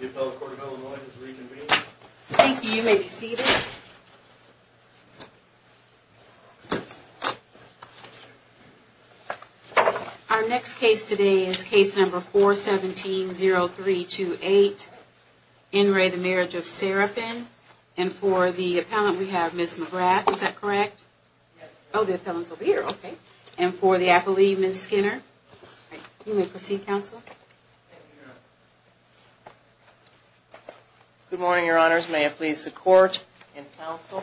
The appellate court of Illinois is reconvened. Thank you. You may be seated. Our next case today is case number 417-0328, In Re, the Marriage of Serapin. And for the appellant we have Ms. McGrath, is that correct? Yes. Oh, the appellant's over here. Okay. And for the apple leaf, Ms. Skinner. You may proceed, counsel. Thank you, Your Honor. Good morning, Your Honors. May it please the court and counsel.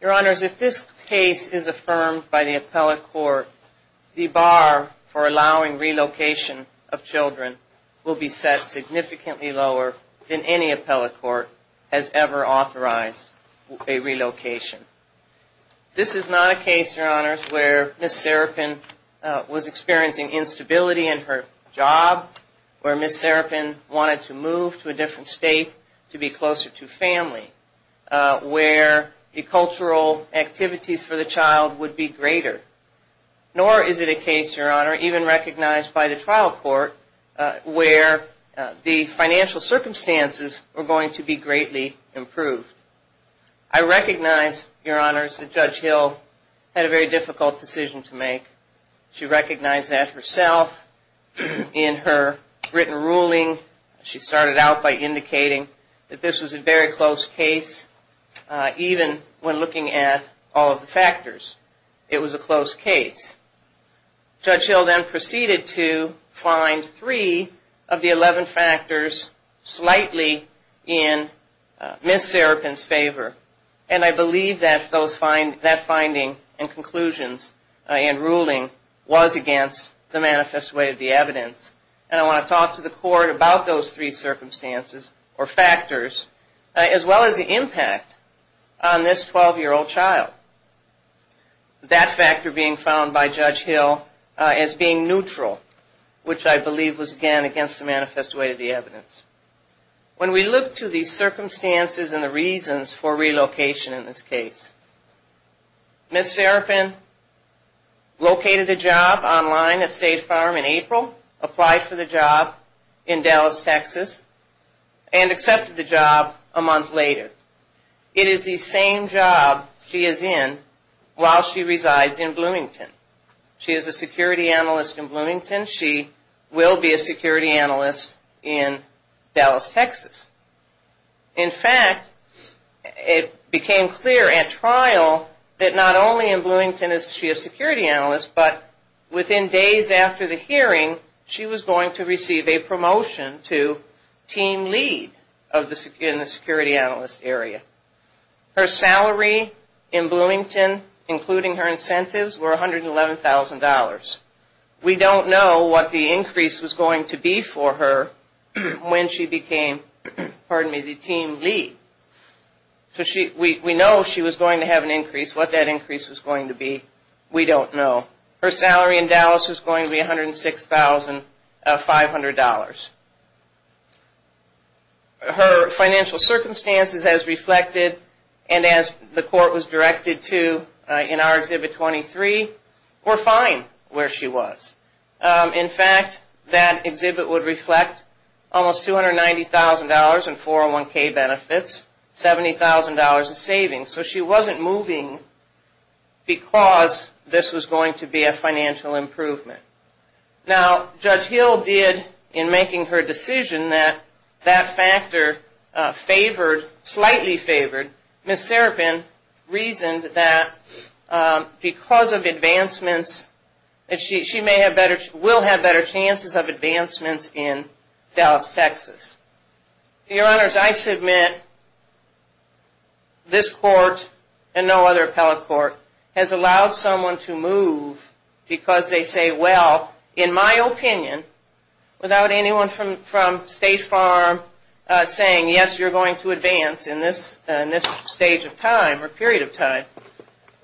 Your Honors, if this case is affirmed by the appellate court, the bar for allowing relocation of children will be set significantly lower than any appellate court has ever authorized a relocation. This is not a case, Your Honors, where Ms. Serapin was experiencing instability in her job, where Ms. Serapin wanted to move to a different state to be closer to family, where the cultural activities for the child would be greater. Nor is it a case, Your Honor, even recognized by the trial court, where the financial circumstances were going to be greatly improved. I recognize, Your Honors, that Judge Hill had a very difficult decision to make. She recognized that herself in her written ruling. She started out by indicating that this was a very close case, even when looking at all of the factors. It was a close case. Judge Hill then proceeded to find three of the 11 factors slightly in Ms. Serapin's favor. And I believe that that finding and conclusions and ruling was against the manifest way of the evidence. And I want to talk to the court about those three circumstances or factors, as well as the impact on this 12-year-old child. That factor being found by Judge Hill as being neutral, which I believe was, again, against the manifest way of the evidence. When we look to the circumstances and the reasons for relocation in this case, Ms. Serapin located a job online at State Farm in April, applied for the job in Dallas, Texas, and accepted the job a month later. It is the same job she is in while she resides in Bloomington. She is a security analyst in Bloomington. She will be a security analyst in Dallas, Texas. In fact, it became clear at trial that not only in Bloomington is she a security analyst, but within days after the hearing, she was going to receive a promotion to team lead in the security analyst area. Her salary in Bloomington, including her incentives, were $111,000. We don't know what the increase was going to be for her when she became the team lead. We know she was going to have an increase. What that increase was going to be, we don't know. Her salary in Dallas was going to be $106,500. Her financial circumstances as reflected and as the court was directed to in our Exhibit 23 were fine where she was. In fact, that exhibit would reflect almost $290,000 in 401k benefits, $70,000 in savings. So she wasn't moving because this was going to be a financial improvement. Now, Judge Hill did in making her decision that that factor favored, slightly favored. Ms. Serapin reasoned that because of advancements, she may have better, will have better chances of advancements in Dallas, Texas. Your Honors, I submit this court and no other appellate court has allowed someone to move because they say, well, in my opinion, without anyone from State Farm saying, yes, you're going to advance in this stage of time or period of time,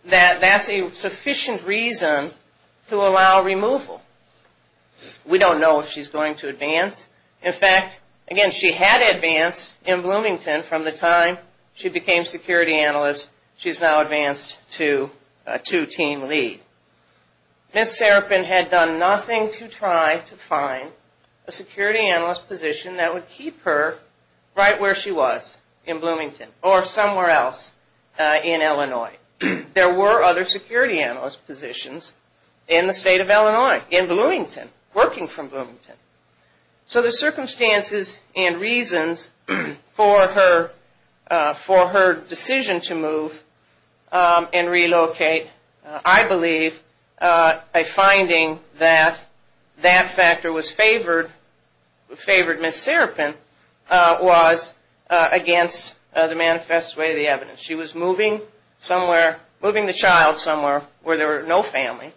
that that's a sufficient reason to allow removal. We don't know if she's going to advance. In fact, again, she had advanced in Bloomington from the time she became security analyst. She's now advanced to team lead. Ms. Serapin had done nothing to try to find a security analyst position that would keep her right where she was in Bloomington or somewhere else in Illinois. There were other security analyst positions in the state of Illinois, in Bloomington, working from Bloomington. So the circumstances and reasons for her decision to move and relocate, I believe a finding that that factor was favored, favored Ms. Serapin, was against the manifest way of the evidence. She was moving somewhere, moving the child somewhere where there were no family,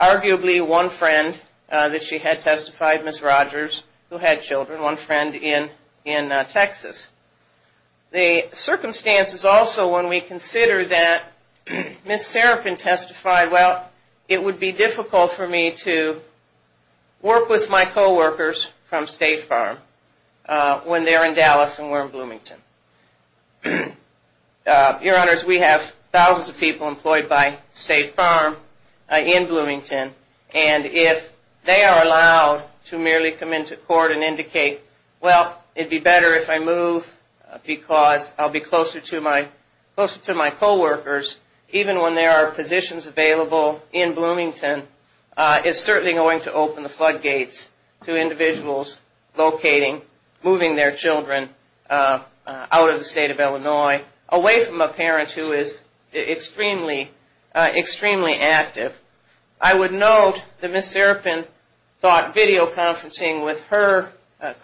arguably one friend that she had testified, Ms. Rogers, who had children, one friend in Texas. The circumstances also when we consider that Ms. Serapin testified, well, it would be difficult for me to work with my coworkers from State Farm when they're in Dallas and we're in Bloomington. Your Honors, we have thousands of people employed by State Farm in Bloomington, and if they are allowed to merely come into court and indicate, well, it would be better if I move because I'll be closer to my coworkers, even when there are positions available in Bloomington, is certainly going to open the floodgates to individuals locating, moving their children out of the state of Illinois, away from a parent who is extremely, extremely active. I would note that Ms. Serapin thought videoconferencing with her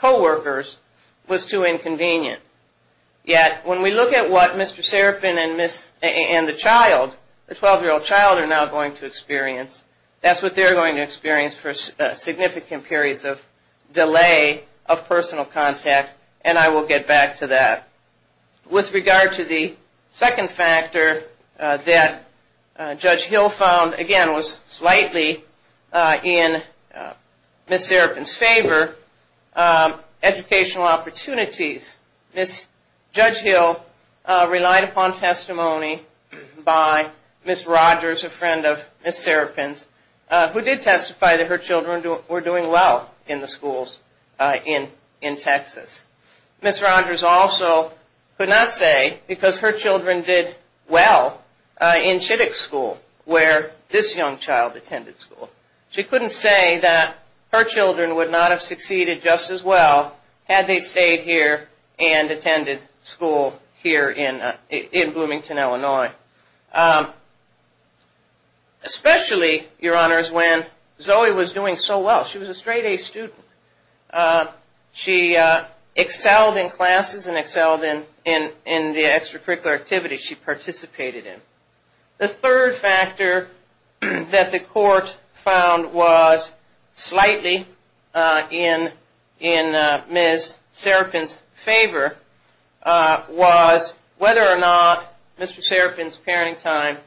coworkers was too inconvenient. Yet, when we look at what Mr. Serapin and the child, the 12-year-old child, are now going to experience, that's what they're going to experience for significant periods of delay of personal contact, and I will get back to that. With regard to the second factor that Judge Hill found, again, was slightly in Ms. Serapin's favor, educational opportunities. Ms. Judge Hill relied upon testimony by Ms. Rogers, a friend of Ms. Serapin's, who did testify that her children were doing well in the schools in Texas. Ms. Rogers also could not say because her children did well in Chittick School, where this young child attended school. She couldn't say that her children would not have succeeded just as well had they stayed here and attended school here in Bloomington, Illinois. Especially, Your Honors, when Zoe was doing so well. She was a straight-A student. She excelled in classes and excelled in the extracurricular activities she participated in. The third factor that the court found was slightly in Ms. Serapin's favor, was whether or not Mr. Serapin's parenting time,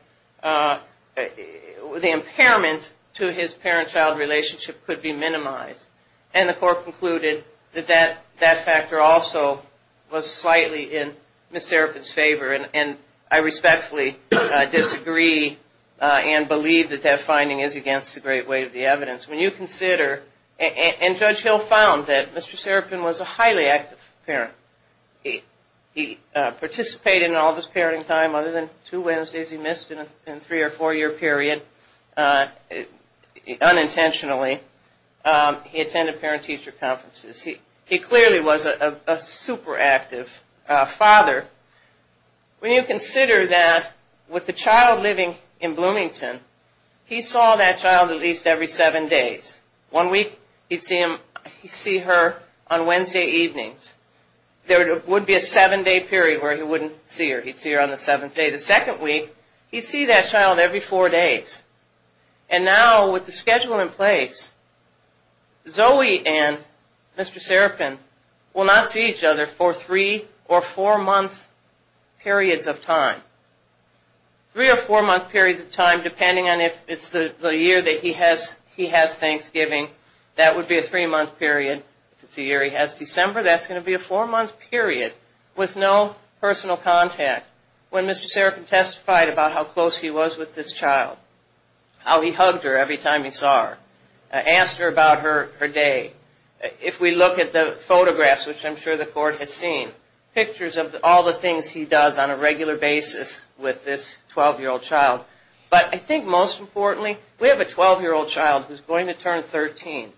the impairment to his parent-child relationship could be minimized. And the court concluded that that factor also was slightly in Ms. Serapin's favor, and I respectfully disagree and believe that that finding is against the great weight of the evidence. When you consider, and Judge Hill found that Mr. Serapin was a highly active parent. He participated in all of his parenting time, other than two Wednesdays he missed in a three- or four-year period, unintentionally. He attended parent-teacher conferences. He clearly was a super-active father. When you consider that with the child living in Bloomington, he saw that child at least every seven days. One week, he'd see her on Wednesday evenings. There would be a seven-day period where he wouldn't see her. He'd see her on the seventh day. The second week, he'd see that child every four days. And now, with the schedule in place, Zoe and Mr. Serapin will not see each other for three- or four-month periods of time. Three- or four-month periods of time, depending on if it's the year that he has Thanksgiving, that would be a three-month period. If it's the year he has December, that's going to be a four-month period with no personal contact. When Mr. Serapin testified about how close he was with this child, how he hugged her every time he saw her, asked her about her day, if we look at the photographs, which I'm sure the court has seen, pictures of all the things he does on a regular basis with this 12-year-old child. But I think most importantly, we have a 12-year-old child who's going to turn 13.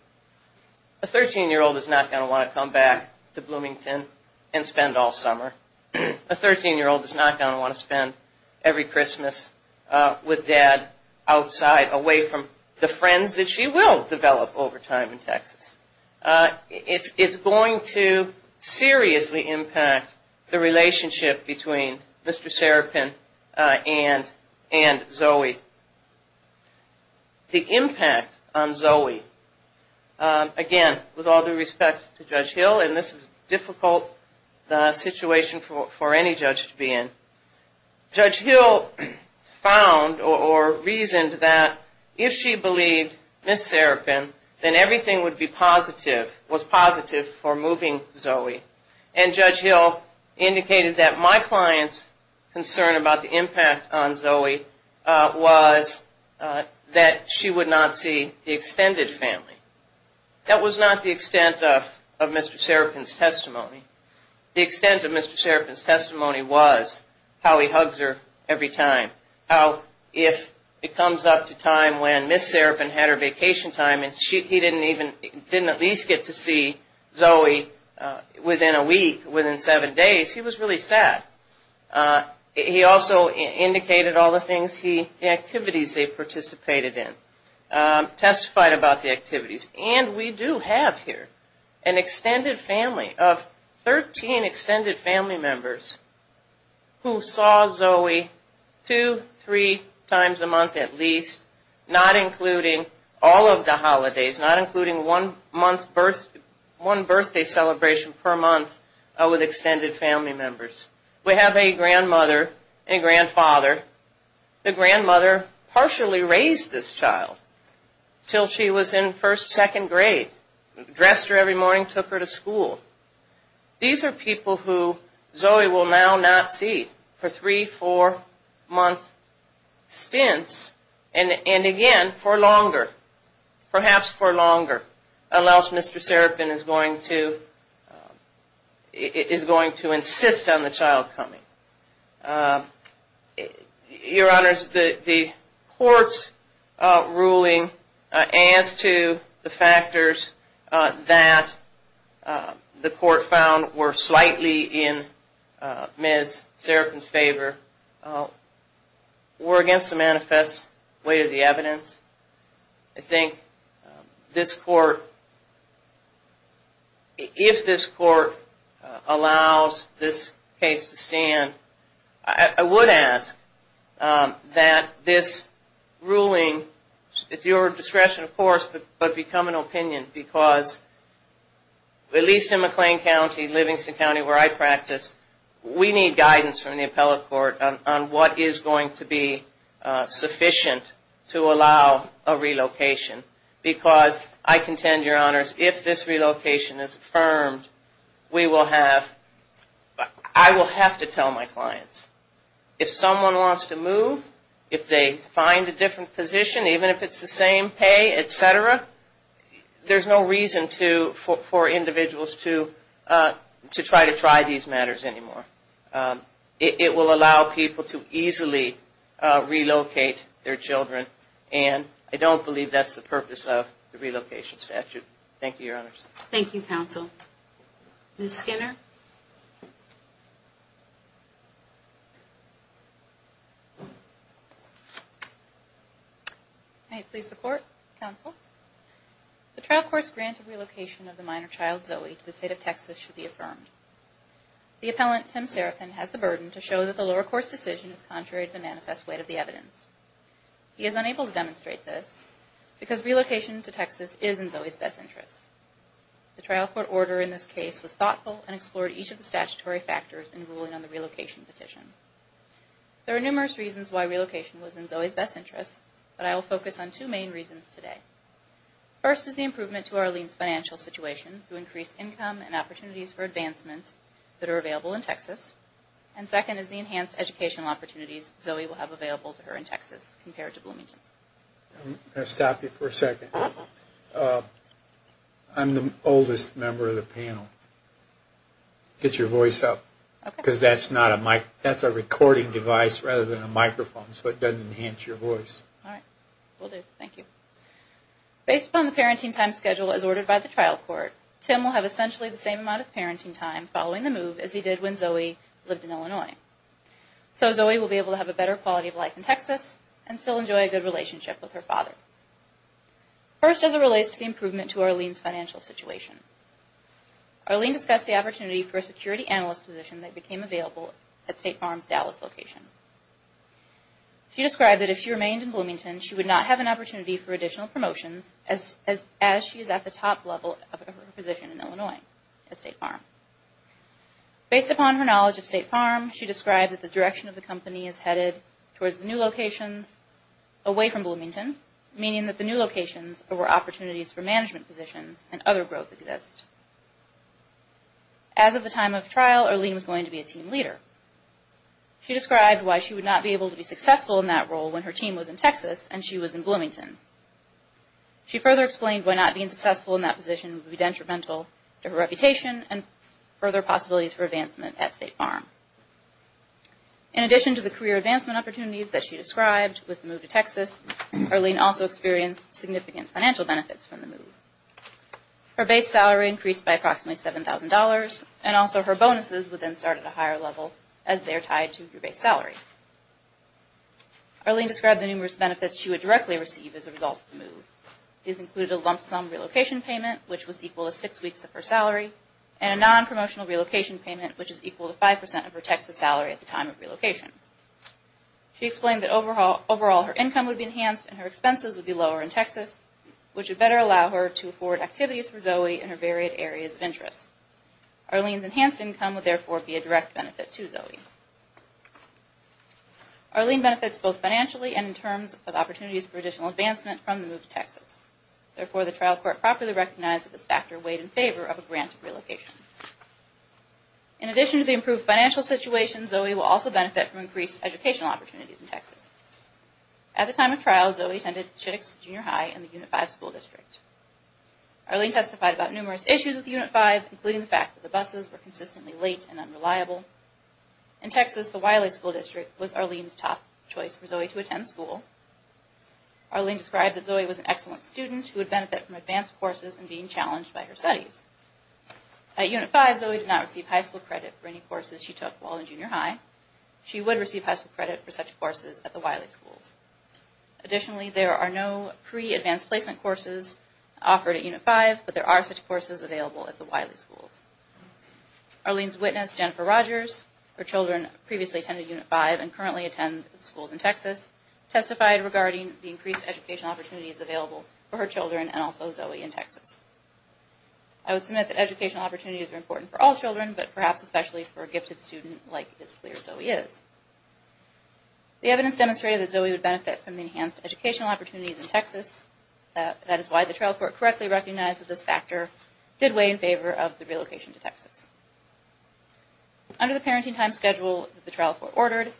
A 13-year-old is not going to want to come back to Bloomington and spend all summer. A 13-year-old is not going to want to spend every Christmas with dad outside, away from the friends that she will develop over time in Texas. It's going to seriously impact the relationship between Mr. Serapin and Zoe. The impact on Zoe. Again, with all due respect to Judge Hill, and this is a difficult situation for any judge to be in, Judge Hill found or reasoned that if she believed Ms. Serapin, then everything would be positive, was positive for moving Zoe. And Judge Hill indicated that my client's concern about the impact on Zoe was that she would not see the extended family. That was not the extent of Mr. Serapin's testimony. The extent of Mr. Serapin's testimony was how he hugs her every time, how if it comes up to time when Ms. Serapin had her vacation time and he didn't at least get to see Zoe within a week, within seven days, he was really sad. He also indicated all the things, the activities they participated in, testified about the activities. And we do have here an extended family of 13 extended family members who saw Zoe two, three times a month at least, not including all of the holidays, not including one birthday celebration per month with extended family members. We have a grandmother and a grandfather. The grandmother partially raised this child until she was in first, second grade, dressed her every morning, took her to school. These are people who Zoe will now not see for three, four month stints and again for longer, perhaps for longer, unless Mr. Serapin is going to insist on the child coming. Your Honor, the court's ruling as to the factors that the court found were slightly in Ms. Serapin's favor were against the manifest weight of the evidence. I think this court, if this court allows this case to stand, I would ask that this ruling, it's your discretion of course, but become an opinion because at least in McLean County, Livingston County where I practice, we need guidance from the appellate court on what is going to be sufficient to allow a relocation. Because I contend, Your Honors, if this relocation is affirmed, we will have, I will have to tell my clients. If someone wants to move, if they find a different position, even if it's the same pay, et cetera, there's no reason for individuals to try to try these matters anymore. It will allow people to easily relocate their children and I don't believe that's the purpose of the relocation statute. Thank you, Your Honors. Thank you, Counsel. Ms. Skinner. May it please the Court, Counsel. The trial court's grant of relocation of the minor child Zoe to the state of Texas should be affirmed. The appellant, Tim Serapin, has the burden to show that the lower court's decision is contrary to the manifest weight of the evidence. He is unable to demonstrate this because relocation to Texas is in Zoe's best interests. The trial court order in this case was thoughtful and explicit. factors in ruling on the relocation petition. There are numerous reasons why relocation was in Zoe's best interests, but I will focus on two main reasons today. First is the improvement to Arlene's financial situation through increased income and opportunities for advancement that are available in Texas. And second is the enhanced educational opportunities Zoe will have available to her in Texas compared to Bloomington. I'm the oldest member of the panel. Get your voice up, because that's a recording device rather than a microphone, so it doesn't enhance your voice. All right. Will do. Thank you. Based upon the parenting time schedule as ordered by the trial court, Tim will have essentially the same amount of parenting time following the move as he did when Zoe lived in Illinois. So Zoe will be able to have a better quality of life in Texas and still enjoy a good relationship with her father. First is a realistic improvement to Arlene's financial situation. Arlene discussed the opportunity for a security analyst position that became available at State Farm's Dallas location. She described that if she remained in Bloomington, she would not have an opportunity for additional promotions, as she is at the top level of her position in Illinois at State Farm. Based upon her knowledge of State Farm, she described that the direction of the company is headed towards new locations away from Bloomington, meaning that the new locations are where opportunities for management positions and other growth exist. As of the time of trial, Arlene was going to be a team leader. She described why she would not be able to be successful in that role when her team was in Texas and she was in Bloomington. She further explained why not being successful in that position would be detrimental to her reputation and further possibilities for advancement at State Farm. In addition to the career advancement opportunities that she described with the move to Texas, Arlene also experienced significant financial benefits from the move. Her base salary increased by approximately $7,000, and also her bonuses would then start at a higher level as they are tied to her base salary. Arlene described the numerous benefits she would directly receive as a result of the move. These included a lump sum relocation payment, which was equal to six weeks of her salary, and a non-promotional relocation payment, which is equal to 5% of her Texas salary at the time of relocation. She explained that overall her income would be enhanced and her expenses would be lower in Texas, which would better allow her to afford activities for Zoe in her varied areas of interest. Arlene's enhanced income would therefore be a direct benefit to Zoe. Arlene benefits both financially and in terms of opportunities for additional advancement from the move to Texas. Therefore, the trial court properly recognized that this factor weighed in favor of a grant of relocation. In addition to the improved financial situation, Zoe will also benefit from increased educational opportunities in Texas. At the time of trial, Zoe attended Chittix Junior High in the Unit 5 school district. Arlene testified about numerous issues with Unit 5, including the fact that the buses were consistently late and unreliable. In Texas, the Wiley School District was Arlene's top choice for Zoe to attend school. Arlene described that Zoe was an excellent student who would benefit from advanced courses and being challenged by her studies. At Unit 5, Zoe did not receive high school credit for any courses she took while in junior high. She would receive high school credit for such courses at the Wiley schools. Additionally, there are no pre-advanced placement courses offered at Unit 5, but there are such courses available at the Wiley schools. Arlene's witness, Jennifer Rogers, her children previously attended Unit 5 and currently attend schools in Texas, testified regarding the increased educational opportunities available for her children and also Zoe in Texas. I would submit that educational opportunities are important for all children, but perhaps especially for a gifted student like Ms. Clear, Zoe is. The evidence demonstrated that Zoe would benefit from the enhanced educational opportunities in Texas. That is why the trial court correctly recognized that this factor did weigh in favor of the relocation to Texas. Under the parenting time schedule that the trial court ordered,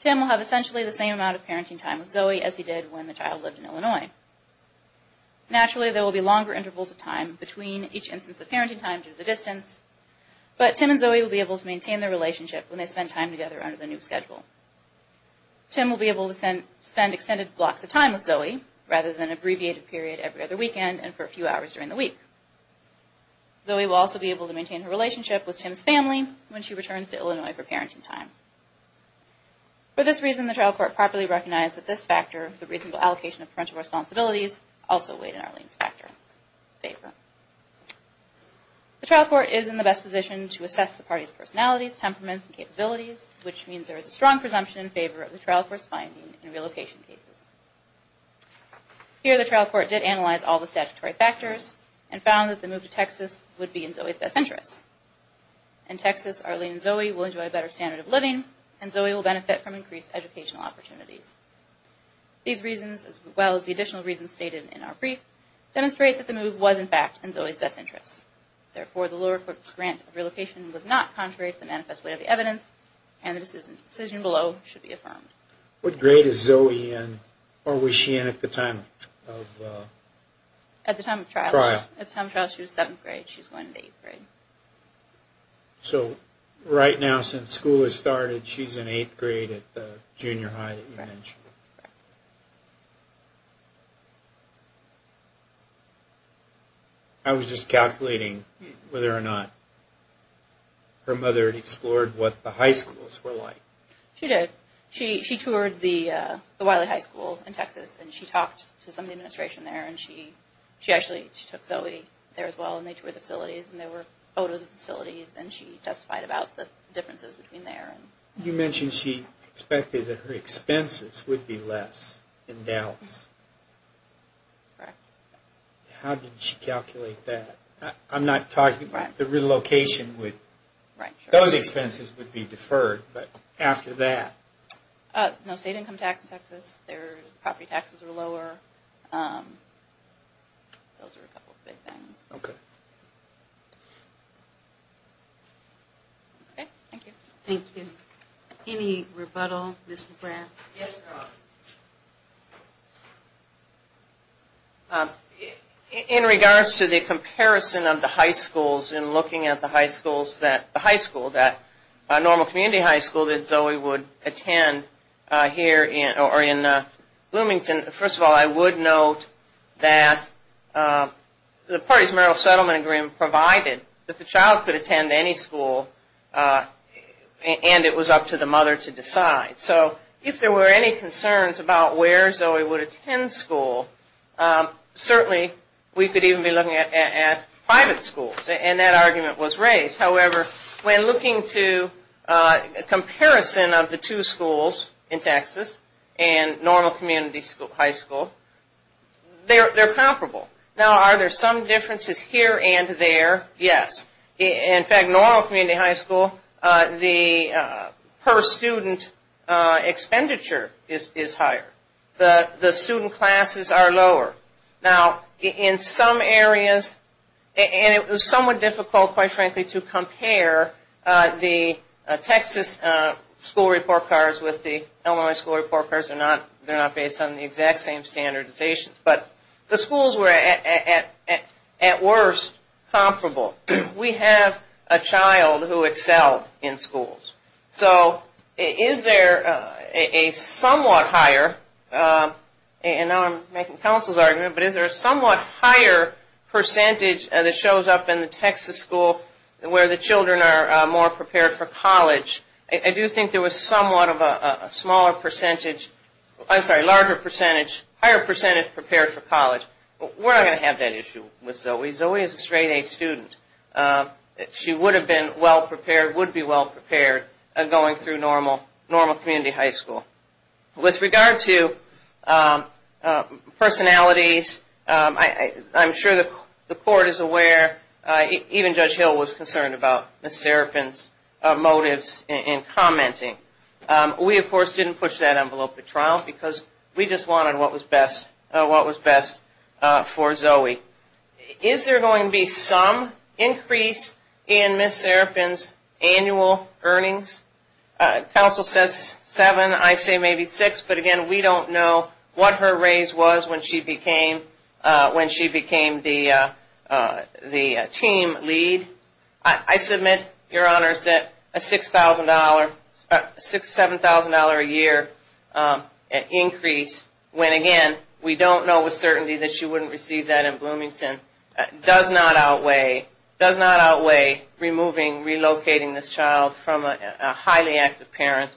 Tim will have essentially the same amount of parenting time with Zoe as he did when the child lived in Illinois. Naturally, there will be longer intervals of time between each instance of parenting time due to the distance, but Tim and Zoe will be able to maintain their relationship when they spend time together under the new schedule. Tim will be able to spend extended blocks of time with Zoe, rather than an abbreviated period every other weekend and for a few hours during the week. Zoe will also be able to maintain her relationship with Tim's family when she returns to Illinois for parenting time. For this reason, the trial court properly recognized that this factor, the reasonable allocation of parental responsibilities, also weighed in Arlene's favor. The trial court is in the best position to assess the party's personalities, temperaments, and capabilities, which means there is a strong presumption in favor of the trial court's finding in relocation cases. Here, the trial court did analyze all the statutory factors, and found that the move to Texas would be in Zoe's best interest. In Texas, Arlene and Zoe will enjoy a better standard of living, and Zoe will benefit from increased educational opportunities. These reasons, as well as the additional reasons stated in our brief, demonstrate that the move was, in fact, in Zoe's best interest. Therefore, the lower court's grant of relocation was not contrary to the manifest weight of the evidence, and the decision below should be affirmed. What grade is Zoe in, or was she in at the time of trial? At the time of trial, she was in 7th grade. She's going into 8th grade. So, right now, since school has started, she's in 8th grade at the junior high that you mentioned. Correct. I was just calculating whether or not her mother had explored what the high schools were like. She did. She toured the Wiley High School in Texas, and she talked to some of the administration there, and she actually took Zoe there as well, and they toured the facilities, and there were photos of the facilities, and she testified about the differences between there. You mentioned she expected that her expenses would be less in Dallas. Correct. How did she calculate that? I'm not talking about the relocation. Right. Those expenses would be deferred, but after that? No state income tax in Texas. Their property taxes are lower. Those are a couple of big things. Okay. Okay. Thank you. Thank you. Any rebuttal, Ms. McGrath? Yes, Ms. McGrath. In regards to the comparison of the high schools and looking at the high schools that the high school, that normal community high school that Zoe would attend here or in Bloomington, first of all, I would note that the parties' marital settlement agreement provided that the child could attend any school, and it was up to the mother to decide. So if there were any concerns about where Zoe would attend school, certainly we could even be looking at private schools, and that argument was raised. However, when looking to comparison of the two schools in Texas and normal community high school, they're comparable. Now, are there some differences here and there? Yes. In fact, normal community high school, the per student expenditure is higher. The student classes are lower. Now, in some areas, and it was somewhat difficult, quite frankly, to compare the Texas school report cards with the Illinois school report cards. They're not based on the exact same standardizations, but the schools were at worst comparable. We have a child who excelled in schools. So is there a somewhat higher, and now I'm making counsel's argument, but is there a somewhat higher percentage that shows up in the Texas school where the children are more prepared for college? I do think there was somewhat of a smaller percentage, I'm sorry, larger percentage, higher percentage prepared for college. We're not going to have that issue with Zoe. Zoe is a straight-A student. She would be well prepared going through normal community high school. With regard to personalities, I'm sure the court is aware, even Judge Hill was concerned about Ms. Serapin's motives in commenting. We, of course, didn't push that envelope to trial because we just wanted what was best for Zoe. Is there going to be some increase in Ms. Serapin's annual earnings? Counsel says seven, I say maybe six, but again, we don't know what her raise was when she became the team lead. I submit, Your Honors, that a $6,000, $7,000 a year increase, when again, we don't know with certainty that she wouldn't receive that in Bloomington, does not outweigh removing, relocating this child from a highly active parent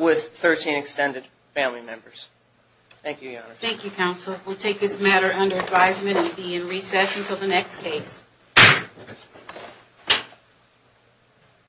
with 13 extended family members. Thank you, Your Honor. Thank you, Counsel. We'll take this matter under advisement and be in recess until the next case.